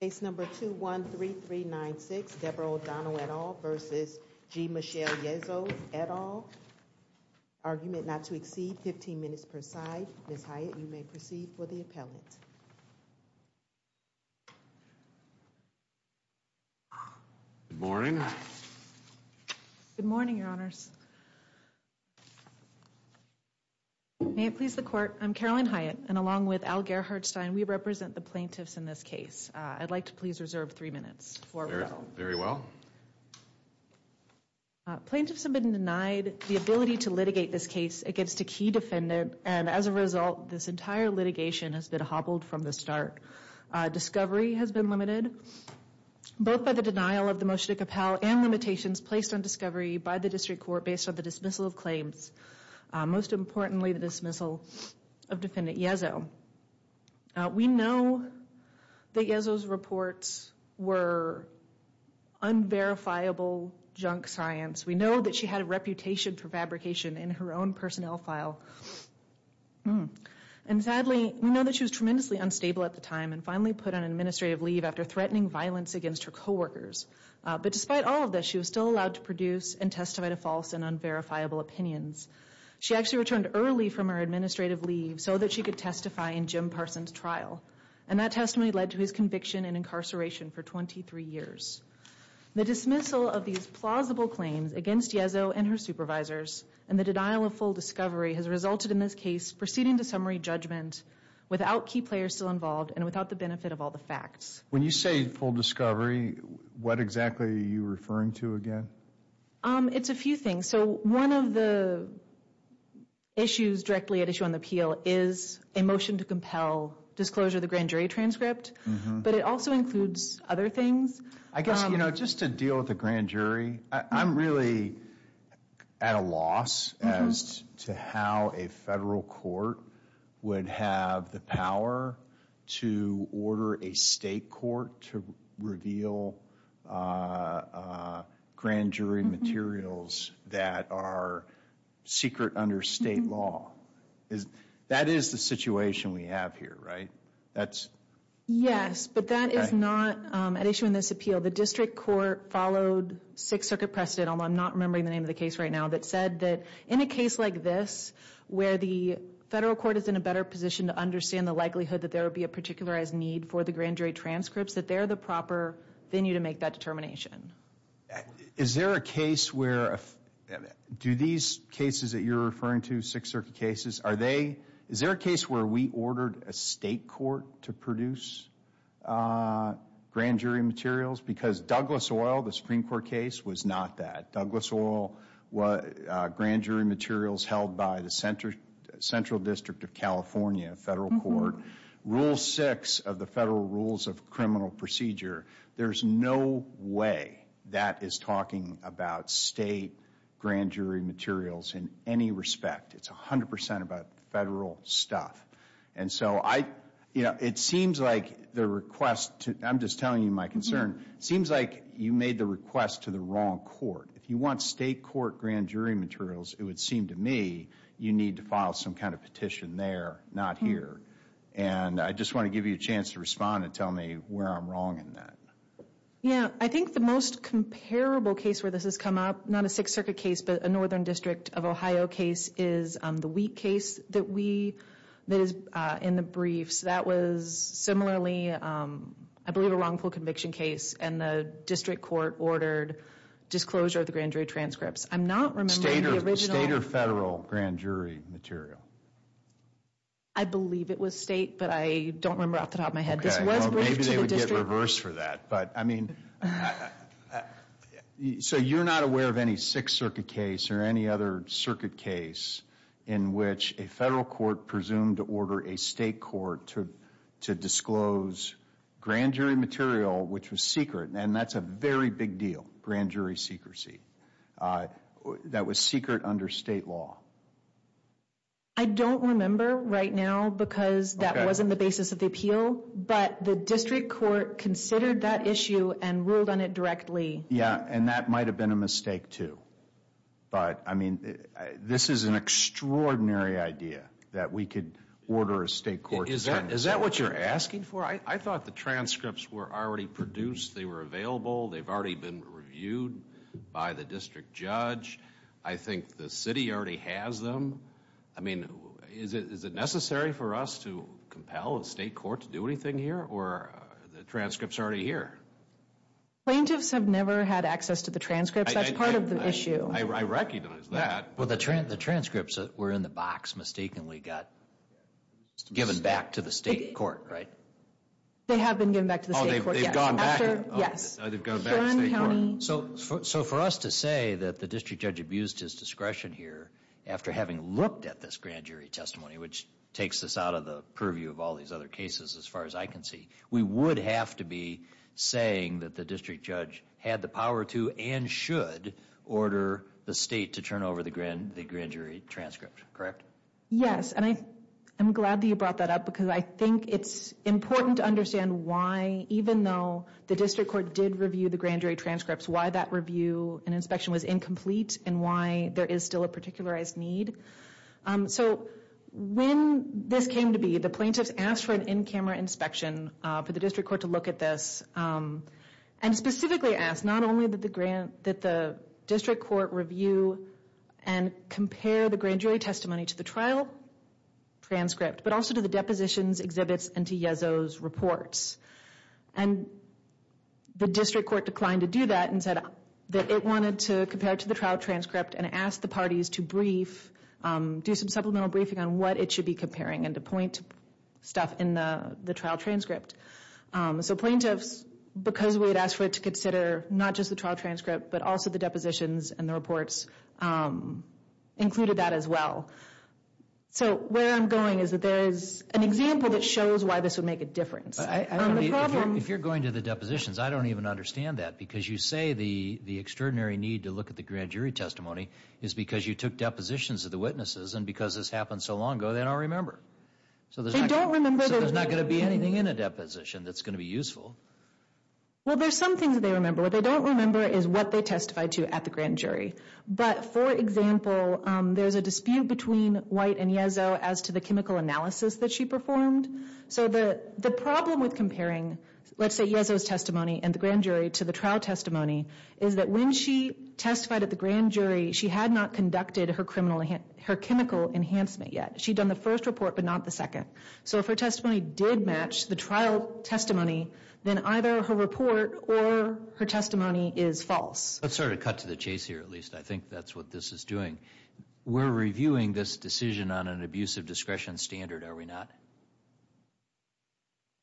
Case number 213396, Debra ODonnell et al. v. G Michele Yezzo et al. Argument not to exceed 15 minutes per side. Ms. Hyatt, you may proceed for the appellant. Good morning. Good morning, Your Honors. May it please the court. I'm Carolyn Hyatt and along with Algar Hartstein, we represent the plaintiffs in this case. I'd like to please reserve three minutes for referral. Very well. Plaintiffs have been denied the ability to litigate this case against a key defendant and as a result, this entire litigation has been hobbled from the start. Discovery has been limited both by the denial of the motion to compel and limitations placed on discovery by the district court based on the dismissal of claims. Most importantly, the dismissal of Defendant Yezzo. We know that Yezzo's reports were unverifiable junk science. We know that she had a reputation for fabrication in her own personnel file. And sadly, we know that she was tremendously unstable at the time and finally put on administrative leave after threatening violence against her coworkers. But despite all of this, she was still allowed to produce and testify to false and unverifiable opinions. She actually returned early from her administrative leave so that she could testify in Jim Parson's trial and that testimony led to his conviction and incarceration for 23 years. The dismissal of these plausible claims against Yezzo and her supervisors and the denial of full discovery has resulted in this case proceeding to summary judgment without key players still involved and without the benefit of all the facts. When you say full discovery, what exactly are you referring to again? It's a few things. So one of the issues directly at issue on the appeal is a motion to compel disclosure of the grand jury transcript, but it also includes other things. I guess, you know, just to deal with the grand jury. I'm really at a loss as to how a federal court would have the power to order a state court to reveal grand jury materials that are secret under state law. That is the situation we have here, right? That's... Yes, but that is not at issue in this appeal. The district court followed Sixth Circuit precedent, although I'm not remembering the name of the case right now, that said that in a case like this where the federal court is in a better position to understand the likelihood that there would be a particularized need for the grand jury transcripts, that they're the proper venue to make that determination. Is there a case where, do these cases that you're referring to, Sixth Circuit cases, are they, is there a case where we ordered a state court to produce grand jury materials because Douglas Oil, the Supreme Court case, was not that. Douglas Oil, grand jury materials held by the Central District of California Federal Court, Rule 6 of the Federal Rules of Criminal Procedure. There's no way that is talking about state grand jury materials in any respect. It's 100% about federal stuff. And so I, you know, it seems like the request to, I'm just telling you my concern, seems like you made the request to the wrong court. If you want state court grand jury materials, it would seem to me, you need to file some kind of petition there, not here. And I just want to give you a chance to respond and tell me where I'm wrong in that. Yeah, I think the most comparable case where this has of Ohio case is the Wheat case that we, that is in the briefs. That was similarly, I believe, a wrongful conviction case and the district court ordered disclosure of the grand jury transcripts. I'm not remembering the original. State or federal grand jury material? I believe it was state, but I don't remember off the top of my head. This was briefed to the district. Maybe they would get reversed for that. But I mean, so you're not aware of any Sixth Circuit case or any other circuit case in which a federal court presumed to order a state court to disclose grand jury material, which was secret. And that's a very big deal. Grand jury secrecy. That was secret under state law. I don't remember right now because that wasn't the basis of the appeal, but the district court considered that issue and ruled on it directly. Yeah, and that might have been a mistake too. But I mean, this is an extraordinary idea that we could order a state court. Is that what you're asking for? I thought the transcripts were already produced. They were available. They've already been reviewed by the district judge. I think the city already has them. I mean, is it necessary for us to compel a state court to do anything here or the transcripts already here? Plaintiffs have never had access to the transcripts. That's part of the issue. I recognize that. Well, the transcripts that were in the box mistakenly got given back to the state court, right? They have been given back to the state court. Yes. So for us to say that the district judge abused his discretion here after having looked at this grand jury testimony, which takes us out of the purview of all these other cases, as far as saying that the district judge had the power to and should order the state to turn over the grand jury transcript, correct? Yes. And I'm glad that you brought that up because I think it's important to understand why, even though the district court did review the grand jury transcripts, why that review and inspection was incomplete and why there is still a particularized need. So when this came to be, the plaintiffs asked for an in-camera inspection for the district court to look at this and specifically asked not only that the district court review and compare the grand jury testimony to the trial transcript, but also to the depositions, exhibits, and to Yeso's reports. And the district court declined to do that and said that it wanted to compare to the trial transcript and asked the parties to brief, do some supplemental briefing on what it should be comparing and to point stuff in the trial transcript. So plaintiffs, because we had asked for it to consider not just the trial transcript, but also the depositions and the reports included that as well. So where I'm going is that there is an example that shows why this would make a difference. If you're going to the depositions, I don't even understand that because you say the extraordinary need to look at the grand jury testimony is because you took depositions of the witnesses and because this happened so long ago, they don't remember. So there's not going to be anything in a deposition that's going to be useful. Well, there's some things they remember. What they don't remember is what they testified to at the grand jury. But for example, there's a dispute between White and Yeso as to the chemical analysis that she performed. So the problem with comparing, let's say Yeso's testimony and the grand jury to the trial testimony, is that when she testified at the grand jury, she had not conducted her chemical enhancement yet. She'd done the first report, but not the second. So if her testimony did match the trial testimony, then either her report or her testimony is false. Let's sort of cut to the chase here, at least. I think that's what this is doing. We're reviewing this decision on an abuse of discretion standard, are we not?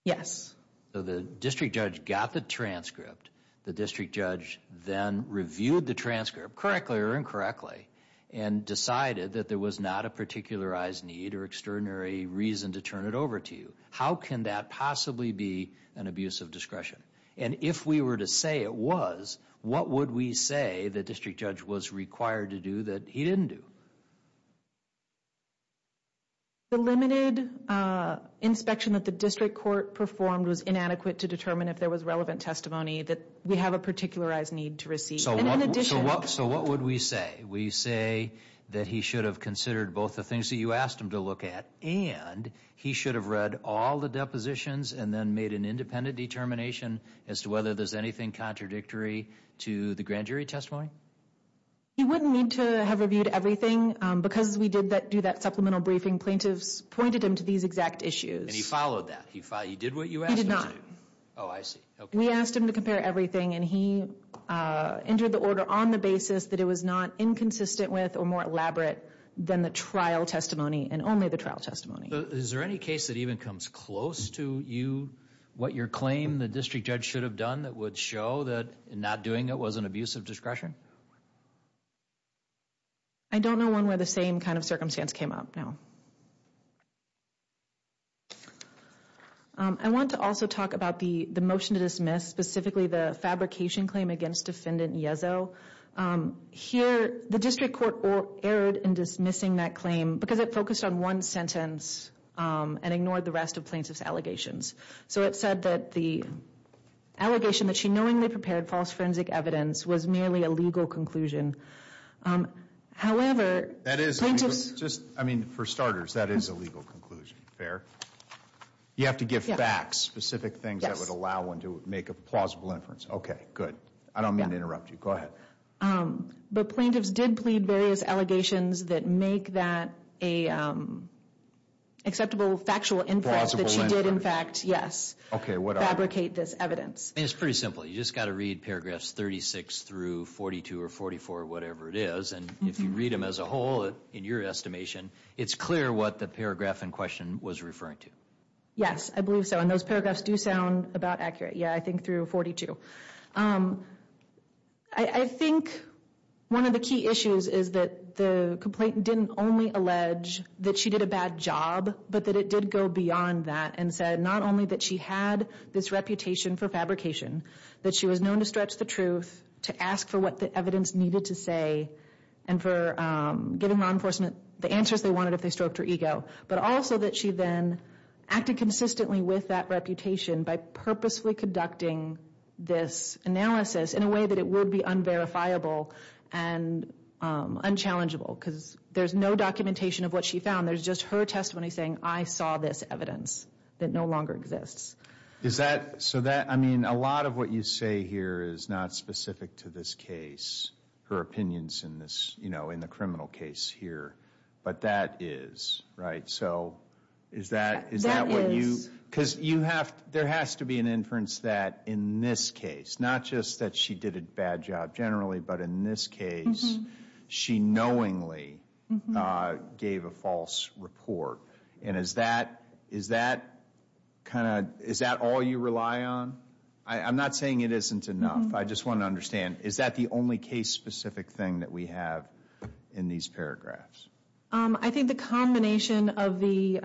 Yes. So the district judge got the transcript. The district judge then reviewed the transcript, correctly or incorrectly, and decided that there was not a particularized need or extraordinary reason to turn it over to you. How can that possibly be an abuse of discretion? And if we were to say it was, what would we say the district judge was required to do that he didn't do? The limited inspection that the district court performed was inadequate to determine if there was relevant testimony that we have a particularized need to receive. So what would we say? We say that he should have considered both the things that you asked him to look at, and he should have read all the depositions and then made an independent determination as to whether there's anything contradictory to the grand jury testimony? He wouldn't need to have reviewed everything, because we did do that supplemental briefing. Plaintiffs pointed him to these exact issues. And he followed that. He did what you asked him to do. He did not. Oh, I see. We asked him to compare everything, and he entered the order on the basis that it was not inconsistent with or more elaborate than the trial testimony and only the trial testimony. Is there any case that even comes close to you, what your claim the district judge should have done that would show that in not doing it was an abuse of discretion? I don't know one where the same kind of circumstance came up now. I want to also talk about the the motion to dismiss specifically the fabrication claim against defendant Yezzo. Here, the district court erred in dismissing that claim because it focused on one sentence and ignored the rest of plaintiff's allegations. So it said that the allegation that she knowingly prepared false forensic evidence was merely a legal conclusion. However, that is just, I mean, for starters, that is a legal conclusion. Fair. You have to give facts, specific things that would allow one to make a plausible inference. Okay, good. I don't mean to interrupt you. Go ahead. But plaintiffs did plead various allegations that make that a acceptable factual inference that she did, in fact, yes. Okay, fabricate this evidence. It's pretty simple. You just got to read paragraphs 36 through 42 or 44, whatever it is. And if you read them as a whole, in your estimation, it's clear what the paragraph in question was referring to. Yes, I believe so. And those paragraphs do sound about accurate. Yeah, I think through 42. I think one of the key issues is that the complainant didn't only allege that she did a bad job, but that it did go beyond that and said, not only that she had this reputation for fabrication, that she was known to stretch the truth, to ask for what the evidence needed to say, and for giving law enforcement the answers they wanted if they stroked her ego, but also that she then acted consistently with that reputation by purposefully conducting this analysis in a way that it would be unverifiable and unchallengeable, because there's no documentation of what she found. There's just her testimony saying, I saw this evidence that no longer exists. Is that, so that, I mean, a lot of what you say here is not specific to this case, her opinions in this, you know, in the criminal case here, but that is, right? So is that, is that what you, because you have, there has to be an inference that in this case, not just that she did a bad job generally, but in this case, she knowingly gave a false report, and is that, is that kind of, is that all you rely on? I'm not saying it isn't enough. I just want to understand, is that the only case-specific thing that we have in these paragraphs? I think the combination of the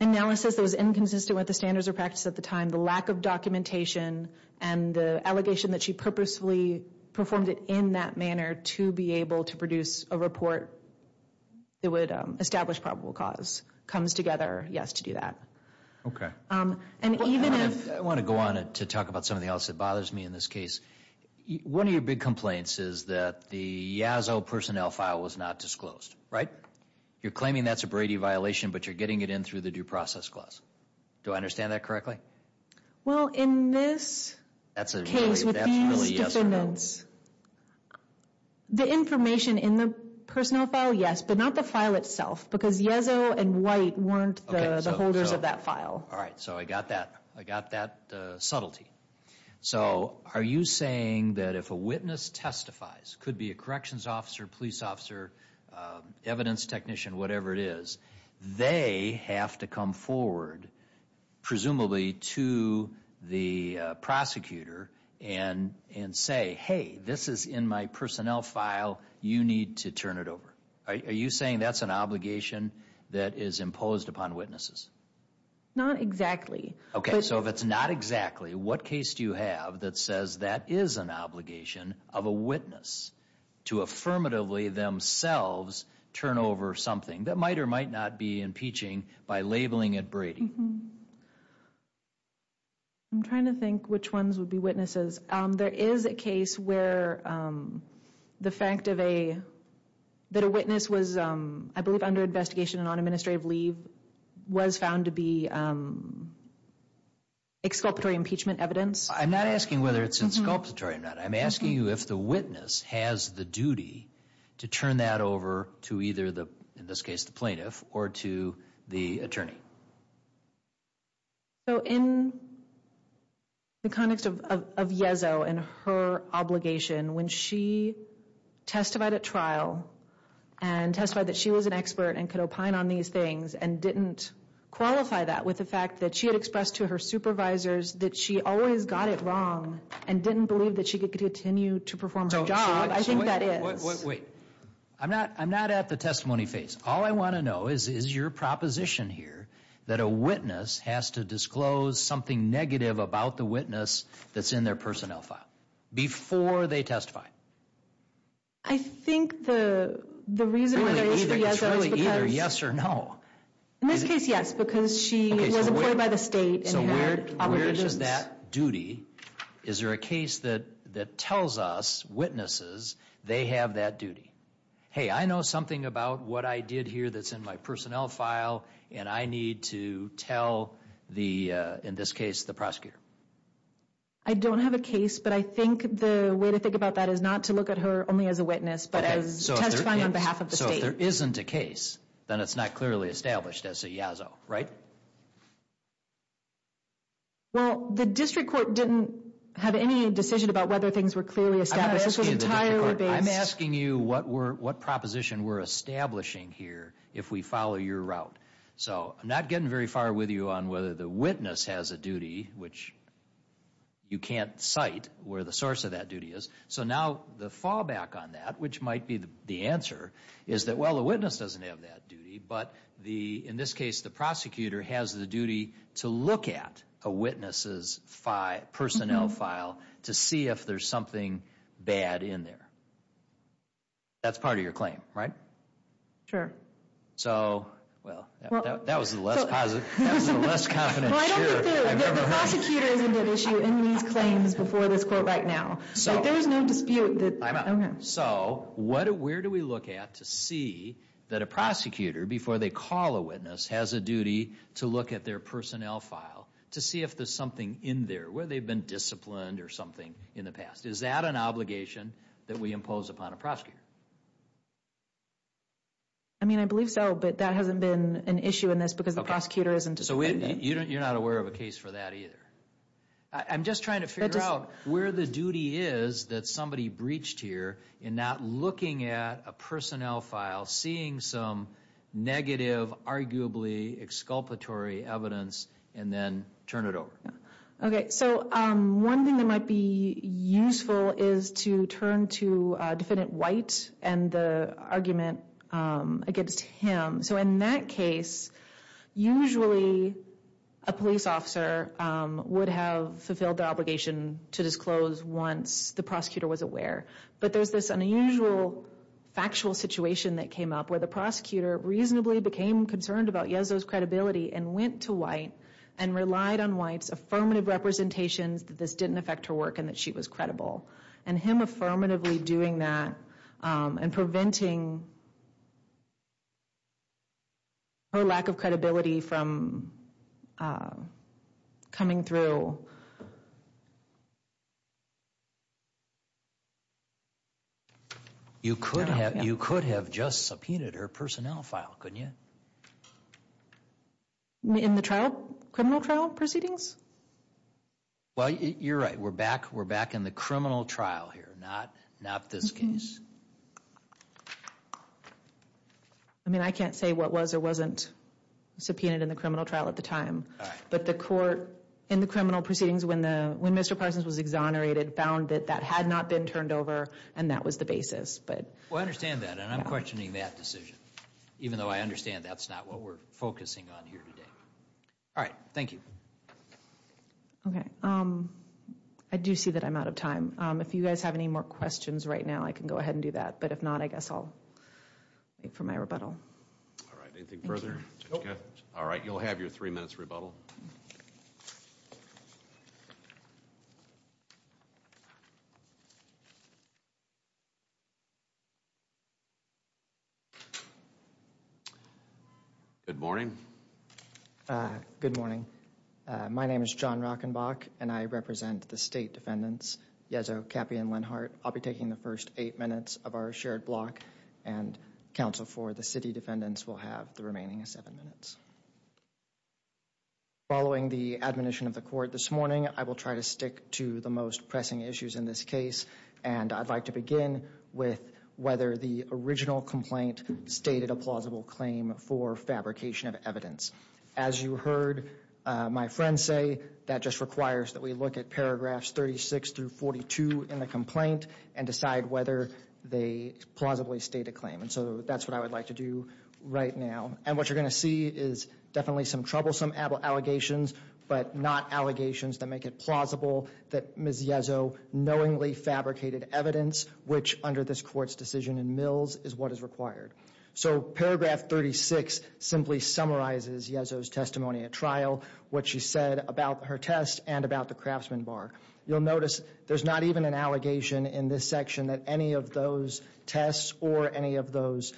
analysis that was inconsistent with the standards of practice at the time, the lack of documentation, and the allegation that she purposefully performed it in that manner to be able to produce a report that would establish probable cause comes together, yes, to do that. Okay. And even if- I want to go on to talk about something else that bothers me in this case. One of your big complaints is that the Yazoo personnel file was not disclosed, right? You're claiming that's a Brady violation, but you're getting it in through the Due Process Clause. Do I understand that correctly? Well, in this case with these defendants, the information in the personnel file, yes, but not the file itself, because Yazoo and White weren't the holders of that file. All right. So I got that. I got that subtlety. So are you saying that if a witness testifies, could be a corrections officer, police officer, evidence technician, whatever it is, they have to come forward, presumably to the prosecutor, and say, hey, this is in my personnel file, you need to turn it over? Are you saying that's an obligation that is imposed upon witnesses? Not exactly. Okay. So if it's not exactly, what case do you have that says that is an obligation of a witness to affirmatively themselves turn over something that might or might not be impeaching by labeling it Brady? I'm trying to think which ones would be witnesses. There is a case where the fact that a witness was, I believe, under investigation and on administrative leave, was found to be exculpatory impeachment evidence. I'm not asking whether it's exculpatory or not. I'm asking you if the witness has the duty to turn that over to either the, in this case, the plaintiff, or to the attorney. So in the context of Yazoo and her obligation, when she testified at trial and testified that she was an expert and could opine on these things and didn't qualify that with the fact that she had expressed to her supervisors that she always got it wrong and didn't believe that she could continue to perform her job. I think that is. Wait, I'm not at the testimony phase. All I want to know is, is your proposition here that a witness has to disclose something negative about the witness that's in their personnel file before they testify? I think the reason why there is a yes or no, in this case, yes, because she was employed by the state. So where is that duty? Is there a case that that tells us witnesses they have that duty? Hey, I know something about what I did here that's in my personnel file and I need to tell the, in this case, the prosecutor. I don't have a case, but I think the way to think about that is not to look at her only as a witness, but as testifying on behalf of the state. So if there isn't a case, then it's not clearly established as a yazzo, right? Well, the district court didn't have any decision about whether things were clearly established. I'm asking you what proposition we're establishing here if we follow your route. So I'm not getting very far with you on whether the witness has a duty, which you can't cite where the source of that duty is. So now the fallback on that, which might be the answer, is that well, the witness doesn't have that duty, but the, in this case, the prosecutor has the duty to look at a witness's personnel file to see if there's something bad in there. That's part of your claim, right? Sure. So, well, that was the less confident answer I've ever heard. The prosecutor is a big issue in these claims before this court right now. So there's no dispute. So where do we look at to see that a prosecutor, before they call a witness, has a duty to look at their personnel file to see if there's something in there where they've been disciplined or something in the past. Is that an obligation that we impose upon a prosecutor? I mean, I believe so, but that hasn't been an issue in this because the prosecutor isn't. So you're not aware of a case for that either. I'm just trying to figure out where the duty is that somebody breached here in not looking at a personnel file, seeing some negative, arguably exculpatory evidence, and then turn it over. Okay, so one thing that might be useful is to turn to defendant White and the argument against him. So in that case, usually a police officer would have fulfilled the obligation to disclose once the prosecutor was aware. But there's this unusual factual situation that came up where the prosecutor reasonably became concerned about Yeso's credibility and went to White and relied on White's affirmative representations that this didn't affect her work and that she was credible. And him affirmatively doing that and preventing her lack of credibility from coming through. You could have just subpoenaed her personnel file, couldn't you? In the criminal trial proceedings? Well, you're right. We're back in the criminal trial here, not this case. I mean, I can't say what was or wasn't subpoenaed in the criminal trial at the time. But the court in the criminal proceedings when Mr. Parsons was exonerated found that that had not been turned over and that was the basis. Well, I understand that and I'm questioning that decision, even though I understand that's not what we're focusing on here today. All right. Thank you. Okay. I do see that I'm out of time. If you guys have any more questions right now, I can go ahead and do that. But if not, I guess I'll wait for my rebuttal. All right. Anything further? All right. You'll have your three minutes rebuttal. Good morning. Good morning. My name is John Rockenbach and I represent the State Defendants Yezzo, Cappy, and Lenhart. I'll be taking the first eight minutes of our shared block and counsel for the City Defendants will have the remaining seven minutes. Following the admonition of the court this morning, I will try to stick to the most pressing issues in this case and I'd like to begin with whether the original complaint stated a plausible claim for fabrication of evidence. As you heard my friend say, that just requires that we look at paragraphs 36 through 42 in the complaint and decide whether they plausibly state a claim. And so that's what I would like to do right now. And what you're going to see is definitely some troublesome allegations, but not allegations that make it plausible that Ms. Yezzo knowingly fabricated evidence, which under this court's decision in Mills is what is required. So paragraph 36 simply summarizes Yezzo's testimony at trial, what she said about her test and about the craftsman bar. You'll notice there's not even an allegation in this section that any of those tests or any of those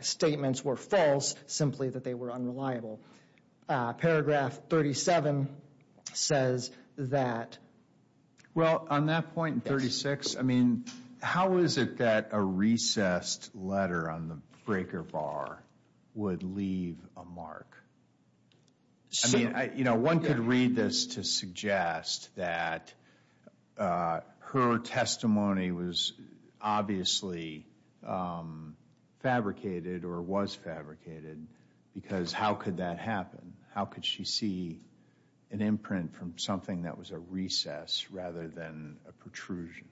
statements were false, simply that they were unreliable. Paragraph 37 says that. Well, on that point 36, I mean, how is it that a recessed letter on the breaker bar would leave a mark? I mean, you know, one could read this to suggest that her testimony was obviously fabricated or was fabricated because how could that happen? How could she see an imprint from something that was a recess rather than a protrusion?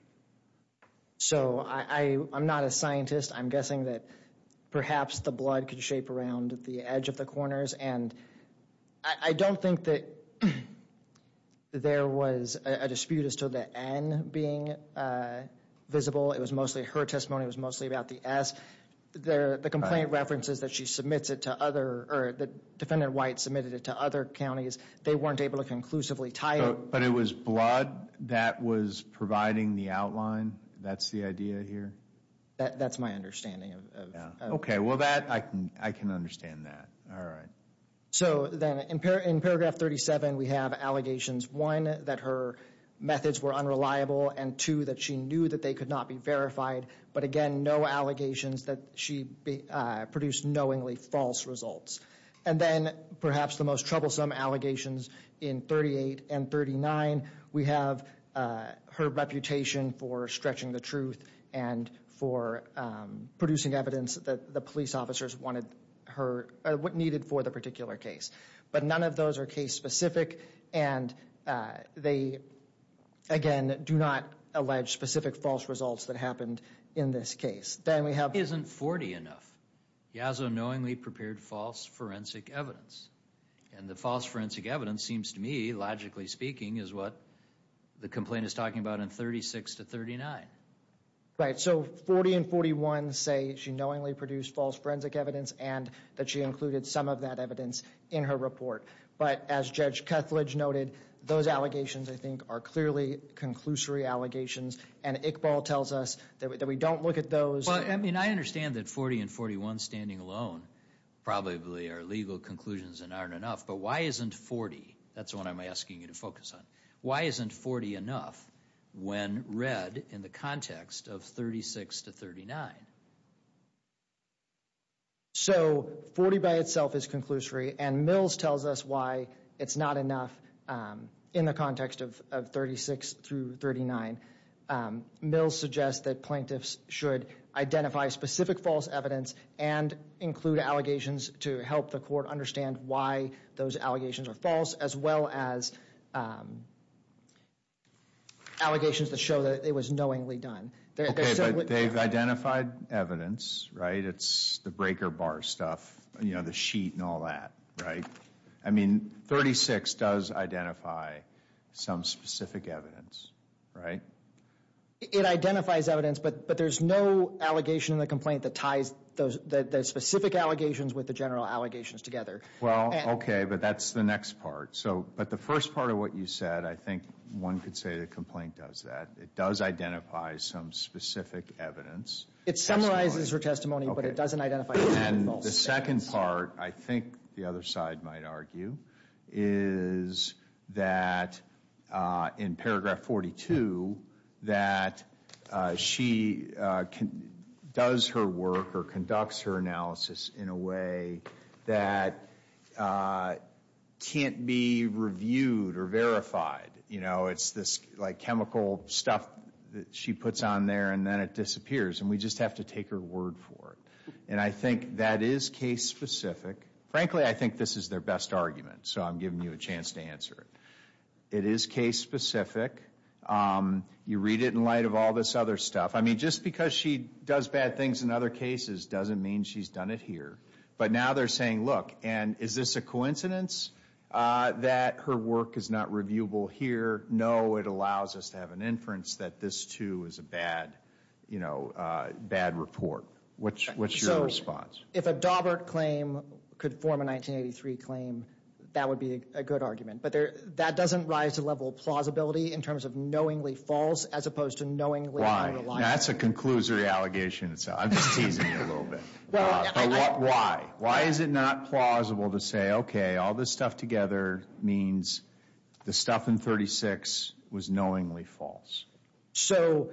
So I'm not a scientist. I'm guessing that perhaps the blood could shape around the edge of the corners, and I don't think that there was a dispute as to the N being visible. It was mostly her testimony was mostly about the S. The complaint references that she submits it to other, or that Defendant White submitted it to other counties, they weren't able to conclusively tie it. But it was blood that was providing the outline? That's the idea here? That's my understanding. Okay, well, I can understand that. All right. So then in paragraph 37, we have allegations, one, that her methods were unreliable, and two, that she knew that they could not be verified. But again, no allegations that she produced knowingly false results. And then perhaps the most troublesome allegations in 38 and 39, we have her reputation for stretching the line, for producing evidence that the police officers wanted her, what needed for the particular case. But none of those are case specific, and they, again, do not allege specific false results that happened in this case. Then we have... Isn't 40 enough? Yazzo knowingly prepared false forensic evidence, and the false forensic evidence seems to me, logically speaking, is what the complaint is talking about in 36 to 39. Right. So 40 and 41 say she knowingly produced false forensic evidence and that she included some of that evidence in her report. But as Judge Kethledge noted, those allegations, I think, are clearly conclusory allegations, and Iqbal tells us that we don't look at those. Well, I mean, I understand that 40 and 41 standing alone probably are legal conclusions and aren't enough. But why isn't 40? That's what I'm asking you to focus on. Why isn't 40 enough when read in the context of 36 to 39? So 40 by itself is conclusory, and Mills tells us why it's not enough in the context of 36 through 39. Mills suggests that plaintiffs should identify specific false evidence and include allegations to help the court understand why those allegations are false, as well as allegations that show that it was knowingly done. Okay, but they've identified evidence, right? It's the breaker bar stuff, you know, the sheet and all that, right? I mean, 36 does identify some specific evidence, right? It identifies evidence, but there's no allegation in the complaint that ties those specific allegations with the general allegations together. Well, okay, but that's the next part. So, but the first part of what you said, I think one could say the complaint does that. It does identify some specific evidence. It summarizes her testimony, but it doesn't identify the second part. I think the other side might argue is that in paragraph 42 that she can does her work or conducts her analysis in a way that can't be reviewed or verified, you know, it's this like chemical stuff that she puts on there and then it disappears and we just have to take her word for it. And I think that is case-specific. Frankly, I think this is their best argument, so I'm giving you a chance to answer it. It is case-specific. You read it in light of all this other stuff. I mean, just because she does bad things in other cases doesn't mean she's done it here. But now they're saying, look, and is this a coincidence that her work is not reviewable here? No, it allows us to have an inference that this too is a bad, you know, bad report. What's your response? If a Daubert claim could form a 1983 claim, that would be a good argument, but that doesn't rise to level plausibility in terms of knowingly false as opposed to knowingly unreliable. That's a conclusory allegation. I'm just teasing you a little bit. Why? Why is it not plausible to say, okay, all this stuff together means the stuff in 36 was knowingly false? So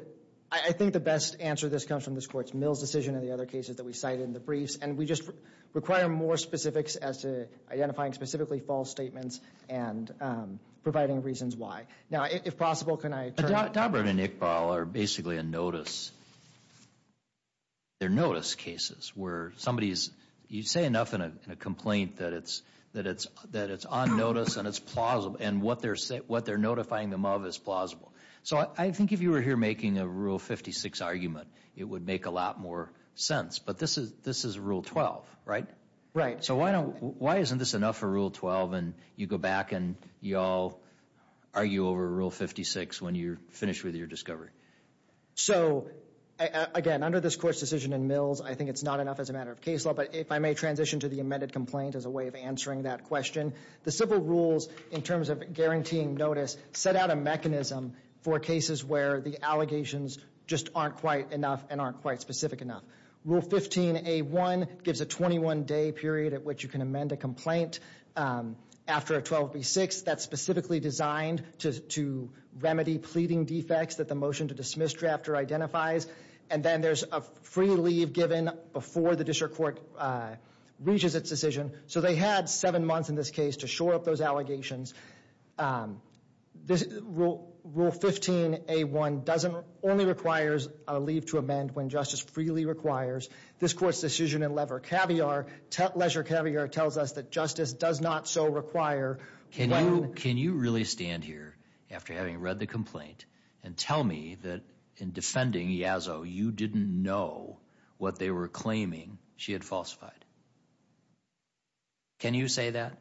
I think the best answer to this comes from this Court's Mills decision and the other cases that we cited in the briefs, and we just require more specifics as to identifying specifically false statements and providing reasons why. Now, if possible, can I turn to— Daubert and Iqbal are basically a notice. They're notice cases. You say enough in a complaint that it's on notice and it's plausible, and what they're notifying them of is plausible. So I think if you were here making a Rule 56 argument, it would make a lot more sense, but this is Rule 12, right? Right. So why isn't this enough for Rule 12 and you go back and you all argue over Rule 56 when you're finished with your discovery? So, again, under this Court's decision in Mills, I think it's not enough as a matter of case law, but if I may transition to the amended complaint as a way of answering that question, the civil rules, in terms of guaranteeing notice, set out a mechanism for cases where the allegations just aren't quite enough and aren't quite specific enough. Rule 15a1 gives a 21-day period at which you can amend a complaint after a 12b6 that's specifically designed to remedy pleading defects that the motion to dismiss drafter identifies, and then there's a free leave given before the district court reaches its decision. So they had seven months in this case to shore up those allegations. Rule 15a1 only requires a leave to amend when justice freely requires. This Court's decision in Lever-Caviar, Leisure-Caviar tells us that justice does not so require. Can you really stand here after having read the complaint and tell me that in defending Yazzo, you didn't know what they were claiming she had falsified? Can you say that?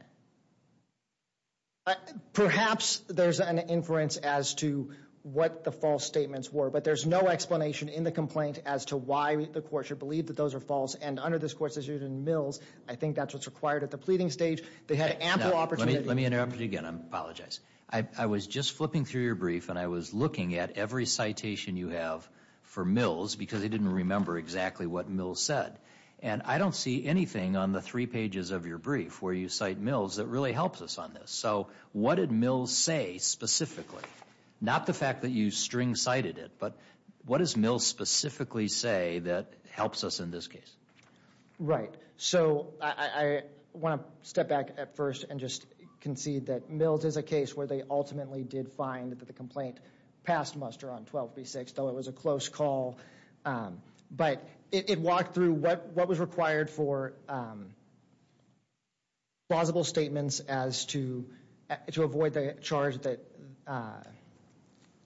Perhaps there's an inference as to what the false statements were, but there's no explanation in the complaint as to why the Court should believe that those are false, and under this Court's decision in Mills, I think that's what's required at the pleading stage. They had ample opportunity. Let me interrupt you again. I apologize. I was just flipping through your brief and I was looking at every citation you have for Mills because I didn't remember exactly what Mills said, and I don't see anything on the three pages of your brief where you cite Mills that really helps us on this. So what did Mills say specifically? Not the fact that you string-cited it, but what does Mills specifically say that helps us in this case? Right. So I want to step back at first and just concede that Mills is a case where they ultimately did find that the complaint passed Muster on 12B6, though it was a close call, but it walked through what was required for plausible statements as to avoid the charge that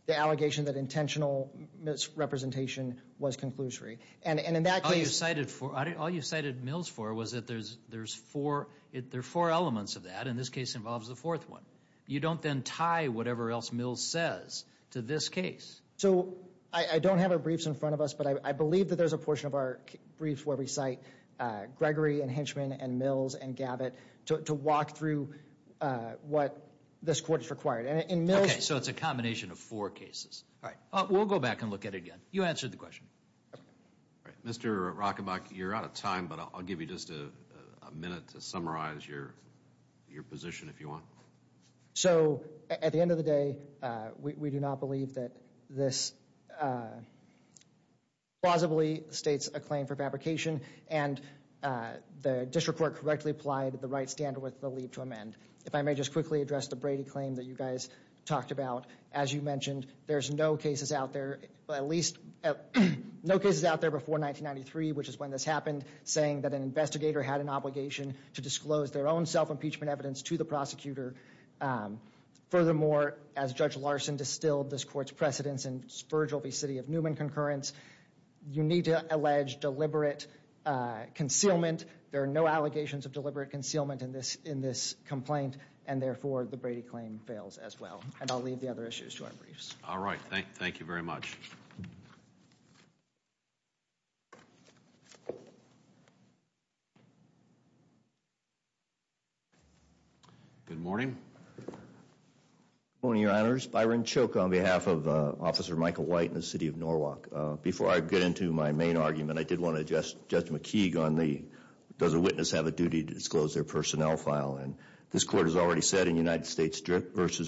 the allegation that intentional misrepresentation was conclusory, and in that case... All you cited Mills for was that there's four elements of that, and this case involves the fourth one. You don't then tie whatever else Mills says to this case. So I don't have a brief in front of us, but I believe that there's a portion of our brief where we cite Gregory and Henchman and Mills and Gavit to walk through what this court required. And in Mills... Okay, so it's a combination of four cases. All right. We'll go back and look at it again. You answered the question. Mr. Rockenbach, you're out of time, but I'll give you just a minute to summarize your position, if you want. So at the end of the day, we do not believe that this plausibly states a claim for fabrication, and the district court correctly applied the right standard with the leap to amend. If I may just quickly address the Brady claim that you guys talked about. As you mentioned, there's no cases out there, at least no cases out there before 1993, which is when this happened, saying that an investigator had an obligation to disclose their own self-impeachment evidence to the prosecutor Furthermore, as Judge Larson distilled this court's precedence in Spurgeville v. City of Newman concurrence, you need to allege deliberate concealment. There are no allegations of deliberate concealment in this complaint, and therefore the Brady claim fails as well. And I'll leave the other issues to our briefs. All right. Thank you very much. Good morning. Good morning, Your Honors. Byron Choke on behalf of Officer Michael White in the City of Norwalk. Before I get into my main argument, I did want to address Judge McKeague on the, does a witness have a duty to disclose their personnel file? And this court has already said in United States v.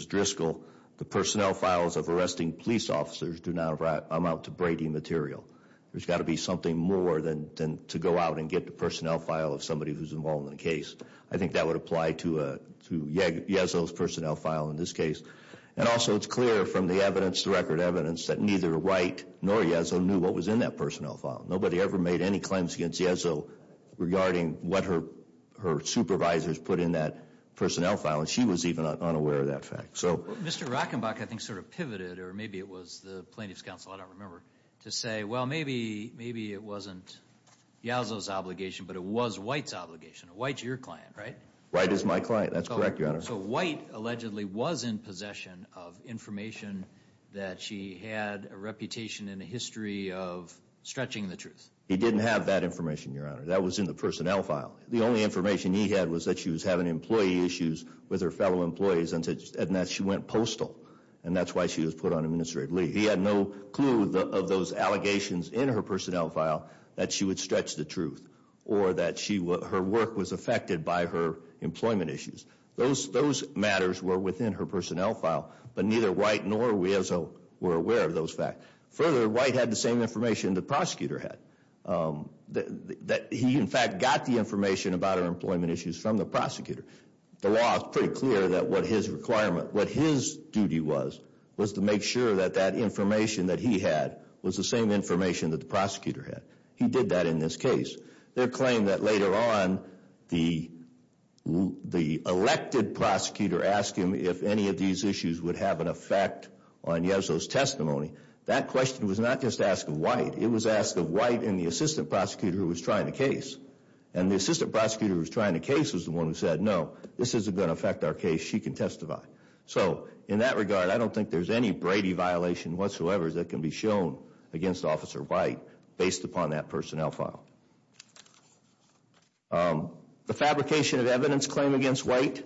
Driscoll, the I'm out to Brady material. There's got to be something more than to go out and get the personnel file of somebody who's involved in the case. I think that would apply to Yezzo's personnel file in this case. And also it's clear from the evidence, the record evidence that neither White nor Yezzo knew what was in that personnel file. Nobody ever made any claims against Yezzo regarding what her supervisors put in that personnel file, and she was even unaware of that fact. So, Mr. Rockenbach, I think sort of pivoted, or maybe it was the Plaintiff's Counsel, I don't remember, to say, well, maybe maybe it wasn't Yezzo's obligation, but it was White's obligation. White's your client, right? White is my client. That's correct, Your Honor. So White allegedly was in possession of information that she had a reputation and a history of stretching the truth. He didn't have that information, Your Honor. That was in the personnel file. The only information he had was that she was having employee issues with her fellow employees and that she went postal. And that's why she was put on administrative leave. He had no clue of those allegations in her personnel file that she would stretch the truth or that her work was affected by her employment issues. Those matters were within her personnel file, but neither White nor Yezzo were aware of those facts. Further, White had the same information the prosecutor had, that he in fact got the information about her employment issues from the prosecutor. The law is pretty clear that what his requirement, what his duty was, was to make sure that that information that he had was the same information that the prosecutor had. He did that in this case. Their claim that later on, the elected prosecutor asked him if any of these issues would have an effect on Yezzo's testimony. That question was not just asked of White. It was asked of White and the assistant prosecutor who was trying the case. And the assistant prosecutor who was trying the case was the one who said, no, this isn't going to affect our case. She can testify. So in that regard, I don't think there's any Brady violation whatsoever that can be shown against Officer White based upon that personnel file. The fabrication of evidence claim against White.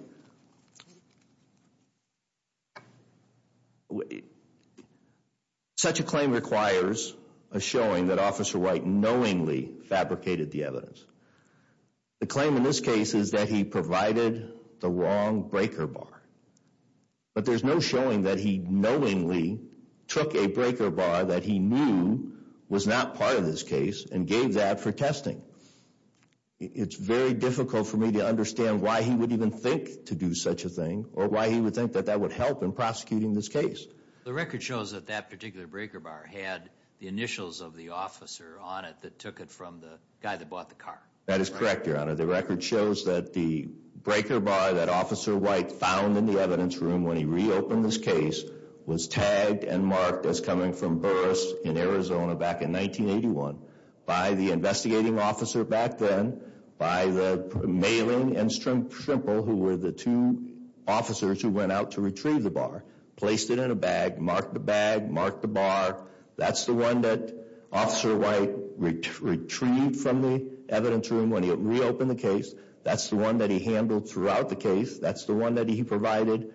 Such a claim requires a showing that Officer White knowingly fabricated the evidence. The claim in this case is that he provided the wrong breaker bar. But there's no showing that he knowingly took a breaker bar that he knew was not part of this case and gave that for testing. It's very difficult for me to understand why he would even think to do such a thing or why he would think that that would help in prosecuting this case. The record shows that that particular breaker bar had the initials of the officer on it that took it from the guy that bought the car. That is correct, your honor. The record shows that the breaker bar that Officer White found in the evidence room when he reopened this case was tagged and marked as coming from Burris in Arizona back in 1981 by the investigating officer back then by the mailing and Strimple who were the two officers who went out to retrieve the bar, placed it in a bag, marked the bag, marked the bar. That's the one that Officer White retrieved from the evidence room when he reopened the case. That's the one that he handled throughout the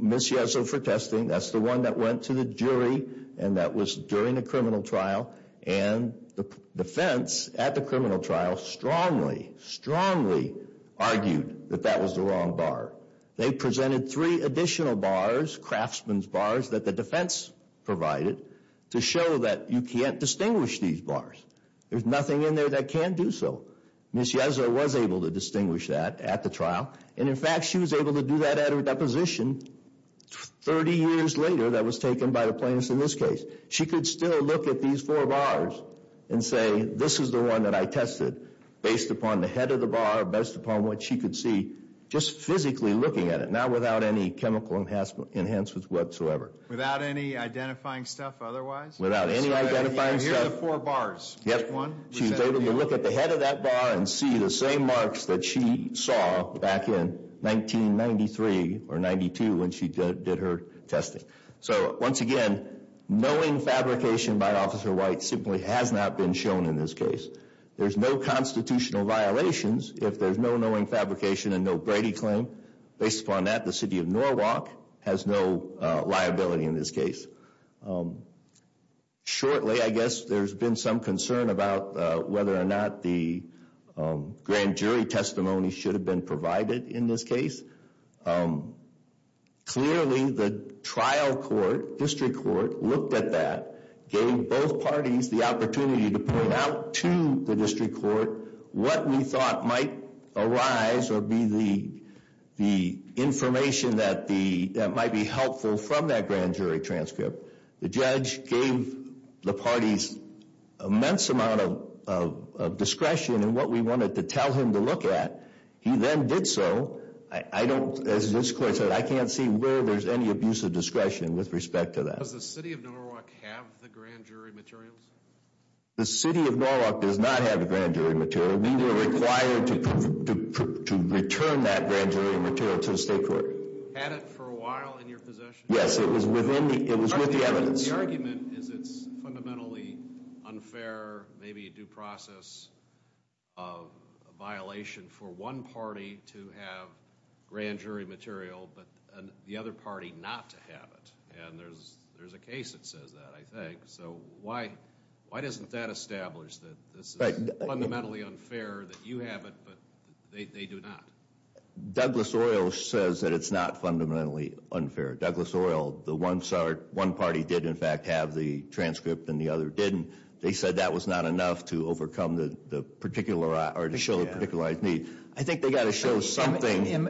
Miss Yeso for testing. That's the one that went to the jury and that was during the criminal trial and the defense at the criminal trial strongly, strongly argued that that was the wrong bar. They presented three additional bars, craftsman's bars, that the defense provided to show that you can't distinguish these bars. There's nothing in there that can't do so. Miss Yeso was able to distinguish that at the trial and in fact she was able to do that at her position 30 years later that was taken by the plaintiffs in this case. She could still look at these four bars and say this is the one that I tested based upon the head of the bar, based upon what she could see, just physically looking at it, not without any chemical enhancement whatsoever. Without any identifying stuff otherwise? Without any identifying stuff. Here are the four bars. Yes. She was able to look at the head of that bar and see the same marks that she saw back in 1993 or 92 when she did her testing. So once again, knowing fabrication by Officer White simply has not been shown in this case. There's no constitutional violations if there's no knowing fabrication and no Brady claim. Based upon that, the city of Norwalk has no liability in this case. Shortly, I guess there's been some concern about whether or not the grand jury testimony should have been provided in this case. Clearly, the trial court, district court, looked at that, gave both parties the opportunity to point out to the district court what we thought might arise or be the information that might be helpful from that grand jury transcript. The judge gave the parties immense amount of discretion in what we wanted to tell him to look at. He then did so. I don't, as this court said, I can't see where there's any abuse of discretion with respect to that. Does the city of Norwalk have the grand jury materials? The city of Norwalk does not have the grand jury material. We were required to return that grand jury material to the state court. Had it for a while in your possession? Yes, it was within, it was The argument is it's fundamentally unfair, maybe a due process of a violation for one party to have grand jury material, but the other party not to have it. And there's a case that says that, I think. So why doesn't that establish that this is fundamentally unfair that you have it, but they do not? Douglas Oil says that it's not fundamentally unfair. Douglas Oil says that one party did in fact have the transcript and the other didn't. They said that was not enough to overcome the particular or to show a particular need. I think they got to show something. Am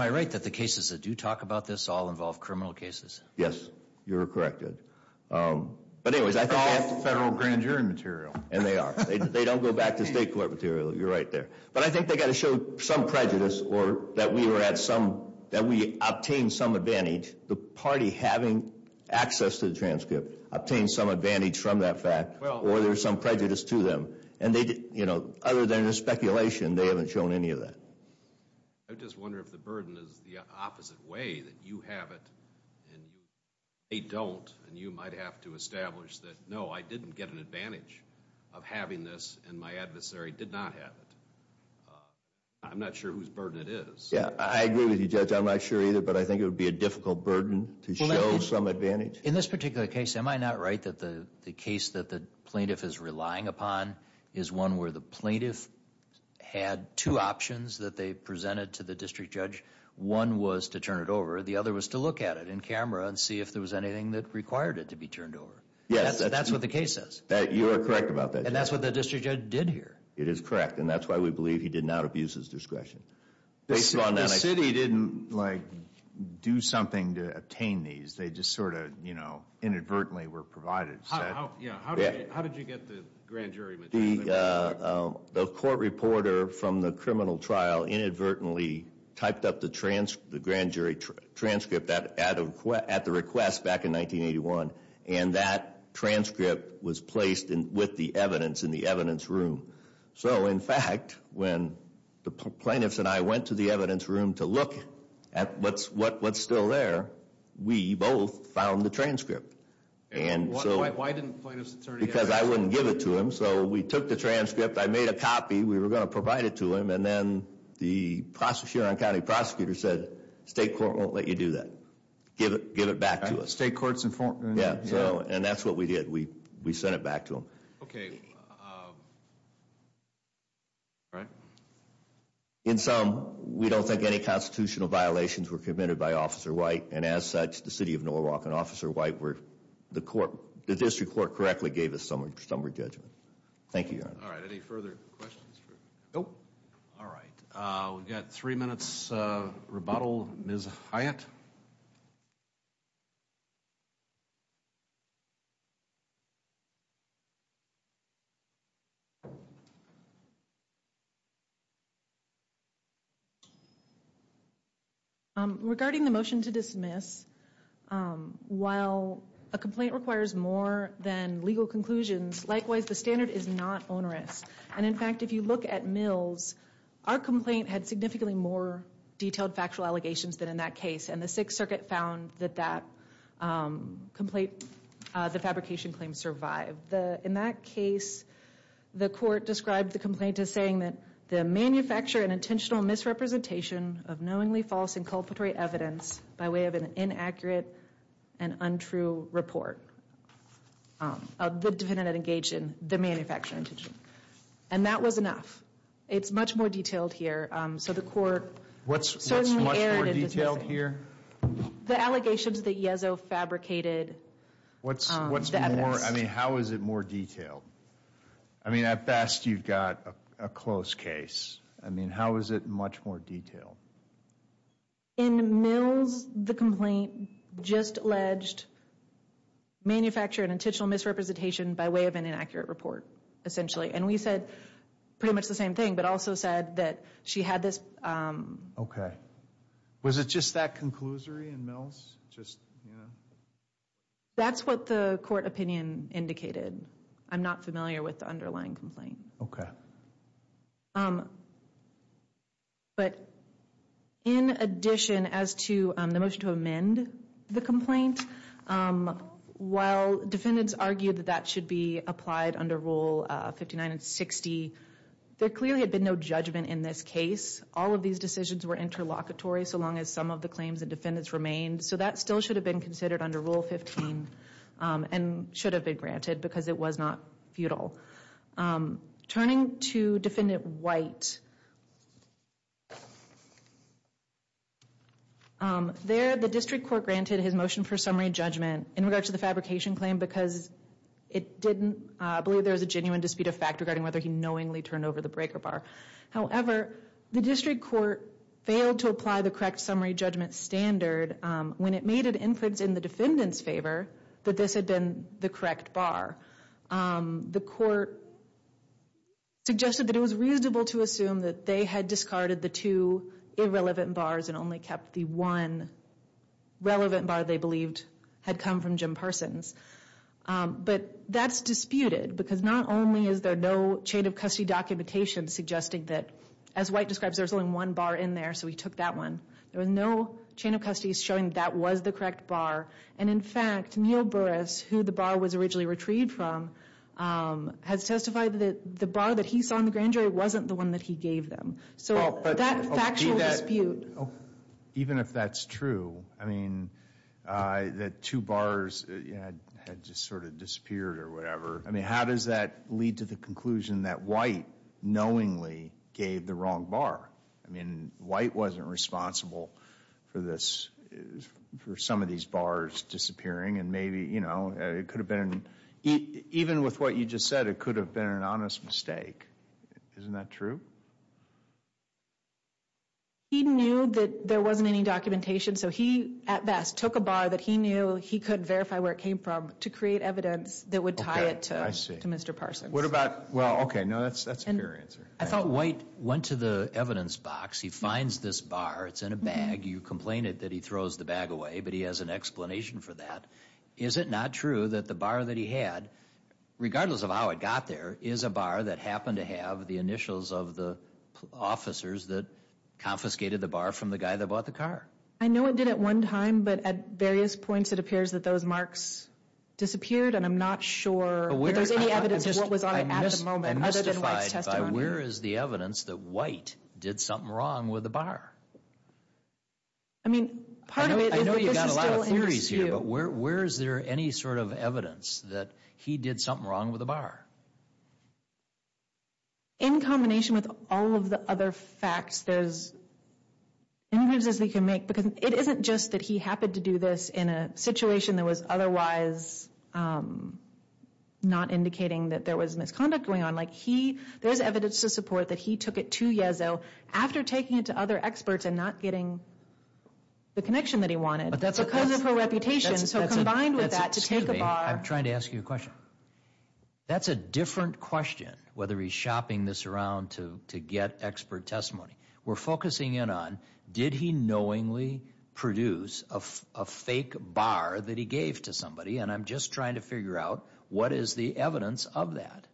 I right that the cases that do talk about this all involve criminal cases? Yes, you're corrected. But anyways, I thought federal grand jury material. And they are. They don't go back to state court material. You're right there. But I think they got to show some prejudice or that we were at some, that we obtained some advantage, the party having access to the transcript, obtained some advantage from that fact or there's some prejudice to them. And they, you know, other than a speculation, they haven't shown any of that. I just wonder if the burden is the opposite way that you have it and they don't and you might have to establish that, no, I didn't get an advantage of having this and my adversary did not have it. I'm not sure whose burden it is. Yeah, I agree with you, Judge. I'm not sure either, but I think it would be a difficult burden to show some advantage. In this particular case, am I not right that the case that the plaintiff is relying upon is one where the plaintiff had two options that they presented to the district judge. One was to turn it over. The other was to look at it in camera and see if there was anything that required it to be turned over. Yes, that's what the case says. That you are correct about that. And that's what the district judge did here. It is correct. And that's why we believe he did not abuse his do something to obtain these. They just sort of, you know, inadvertently were provided. How did you get the grand jury? The court reporter from the criminal trial inadvertently typed up the transcript, the grand jury transcript at the request back in 1981 and that transcript was placed with the evidence in the evidence room. So, in fact, when the plaintiffs and I went to the evidence room to look at what's what's still there, we both found the transcript. And so why didn't plaintiffs attorney? Because I wouldn't give it to him. So we took the transcript. I made a copy. We were going to provide it to him. And then the Sheeran County prosecutor said state court won't let you do that. Give it, give it back to us. State courts informed. Yeah. So and that's what we did. We we sent it back to him. Okay. All right. In sum, we don't think any constitutional violations were committed by Officer White and as such the city of Norwalk and Officer White were the court, the district court correctly gave us summary judgment. Thank you. All right. Any further questions? Nope. All right. We've got three minutes rebuttal. Ms. Hyatt. Regarding the motion to dismiss, while a complaint requires more than legal conclusions, likewise, the standard is not onerous. And in fact, if you look at Mills, our complaint had significantly more detailed factual allegations than in that case. And the Sixth Circuit found that that complaint, the fabrication claim survived. The in that case, the court described the complaint as saying that the manufacture and intentional misrepresentation of knowingly false inculpatory evidence by way of an inaccurate and untrue report of the defendant engaged in the manufacture intention. And that was enough. It's much more detailed here. So the court. What's certainly errant. What's more detailed here? The allegations that Yeso fabricated. What's, what's more, I mean, how is it more detailed? I mean, at best, you've got a close case. I mean, how is it much more detailed? In Mills, the complaint just alleged manufacture and intentional misrepresentation by way of an inaccurate report, essentially. And we said pretty much the same thing, but also said that she had this. Okay. Was it just that conclusory in Mills? Just, you know, that's what the court opinion indicated. I'm not familiar with the underlying complaint. Okay. But in addition, as to the motion to amend the complaint, while defendants argued that that should be applied under Rule 59 and 60, there clearly had been no judgment in this case. All of these decisions were interlocutory so long as some of the claims and defendants remained. So that still should have been considered under Rule 15 and should have been granted because it was not futile. Turning to Defendant White. There, the district court granted his motion for summary judgment in regard to the fabrication claim because it didn't, I believe there was a genuine dispute of fact regarding whether he knowingly turned over the breaker bar. However, the district court failed to apply the correct summary judgment standard when it made an inference in the defendant's favor that this had been the correct bar. The court suggested that it was reasonable to assume that they had discarded the two irrelevant bars and only kept the one relevant bar they believed had come from Jim Parsons. But that's disputed because not only is there no chain of custody documentation suggesting that, as White describes, there's only one bar in there so he took that one. There was no chain of custody showing that was the correct bar. And in fact, Neil Burris, who the bar was originally retrieved from, has testified that the bar that he saw in the grand jury wasn't the one that he gave them. So that factual dispute. Even if that's true, I mean, that two bars had just sort of disappeared or whatever. I mean, how does that lead to the conclusion that White knowingly gave the wrong bar? I wasn't responsible for this, for some of these bars disappearing. And maybe, you know, it could have been, even with what you just said, it could have been an honest mistake. Isn't that true? He knew that there wasn't any documentation. So he, at best, took a bar that he knew he could verify where it came from to create evidence that would tie it to Mr. Parsons. What about, well, okay, no, that's a fair answer. I thought White went to the evidence box. He finds this bar. It's in a bag. You complained that he throws the bag away, but he has an explanation for that. Is it not true that the bar that he had, regardless of how it got there, is a bar that happened to have the initials of the officers that confiscated the bar from the guy that bought the car? I know it did at one time, but at various points, it appears that those marks disappeared, and I'm not sure if there's any evidence of what was on it at the moment, other than White's testimony. But where is the evidence that White did something wrong with the bar? I mean, part of it is that this is still an issue. I know you've got a lot of theories here, but where is there any sort of evidence that he did something wrong with the bar? In combination with all of the other facts, there's as many moves as we can make, because it isn't just that he happened to do this in a situation that was otherwise not indicating that there was misconduct going on. There's evidence to support that he took it to Yezzo after taking it to other experts and not getting the connection that he wanted, because of her reputation. So combined with that, to take a bar... Excuse me, I'm trying to ask you a question. That's a different question, whether he's shopping this around to get expert testimony. We're focusing in on, did he knowingly produce a fake bar that he gave to somebody? And I'm just trying to figure out, what is the evidence of that?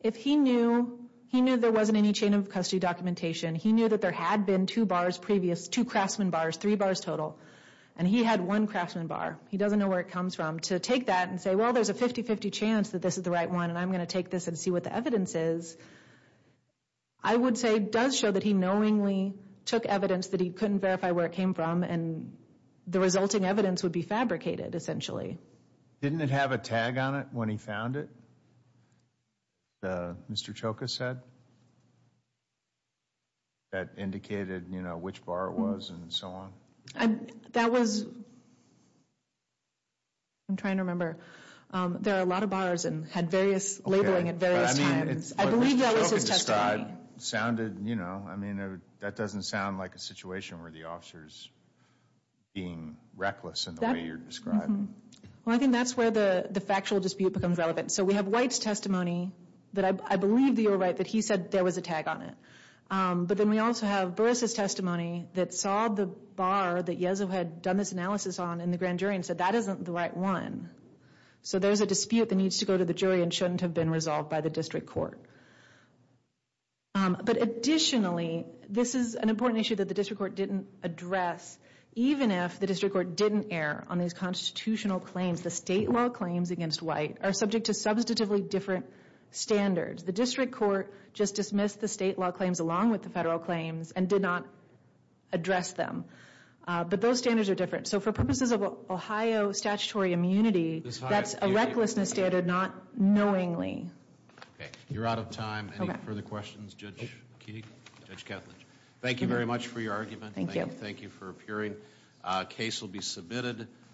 If he knew, he knew there wasn't any chain of custody documentation, he knew that there had been two bars previous, two craftsman bars, three bars total, and he had one craftsman bar. He doesn't know where it comes from. To take that and say, well, there's a 50-50 chance that this is the right one, and I'm going to take this and see what the evidence is, I would say does show that he knowingly took evidence that he couldn't verify where it came from, and the resulting evidence would be fabricated, essentially. Didn't it have a tag on it when he found it, Mr. Choka said, that indicated, you know, which bar it was and so on? That was, I'm trying to remember. There are a lot of bars and had various labeling at various times. I believe that was his testimony. It sounded, you know, I mean, that doesn't sound like a situation where the officer's being reckless in the way you're describing. Well, I think that's where the factual dispute becomes relevant. So we have White's testimony that I believe that you're right, that he said there was a tag on it. But then we also have Barissa's testimony that saw the bar that Yezo had done this analysis on in the grand jury and said that isn't the right one. So there's a dispute that needs to go to the jury and shouldn't have been resolved by the district court. But additionally, this is an important issue that the district court didn't address, even if the district court didn't err on these constitutional claims. The state law claims against White are subject to substantively different standards. The district court just dismissed the state law claims along with the federal claims and did not address them. But those standards are different. So for purposes of Ohio statutory immunity, that's a recklessness standard, not knowingly. You're out of time. Any further questions, Judge Keege, Judge Ketledge? Thank you very much for your argument. Thank you. Thank you for appearing. Case will be submitted.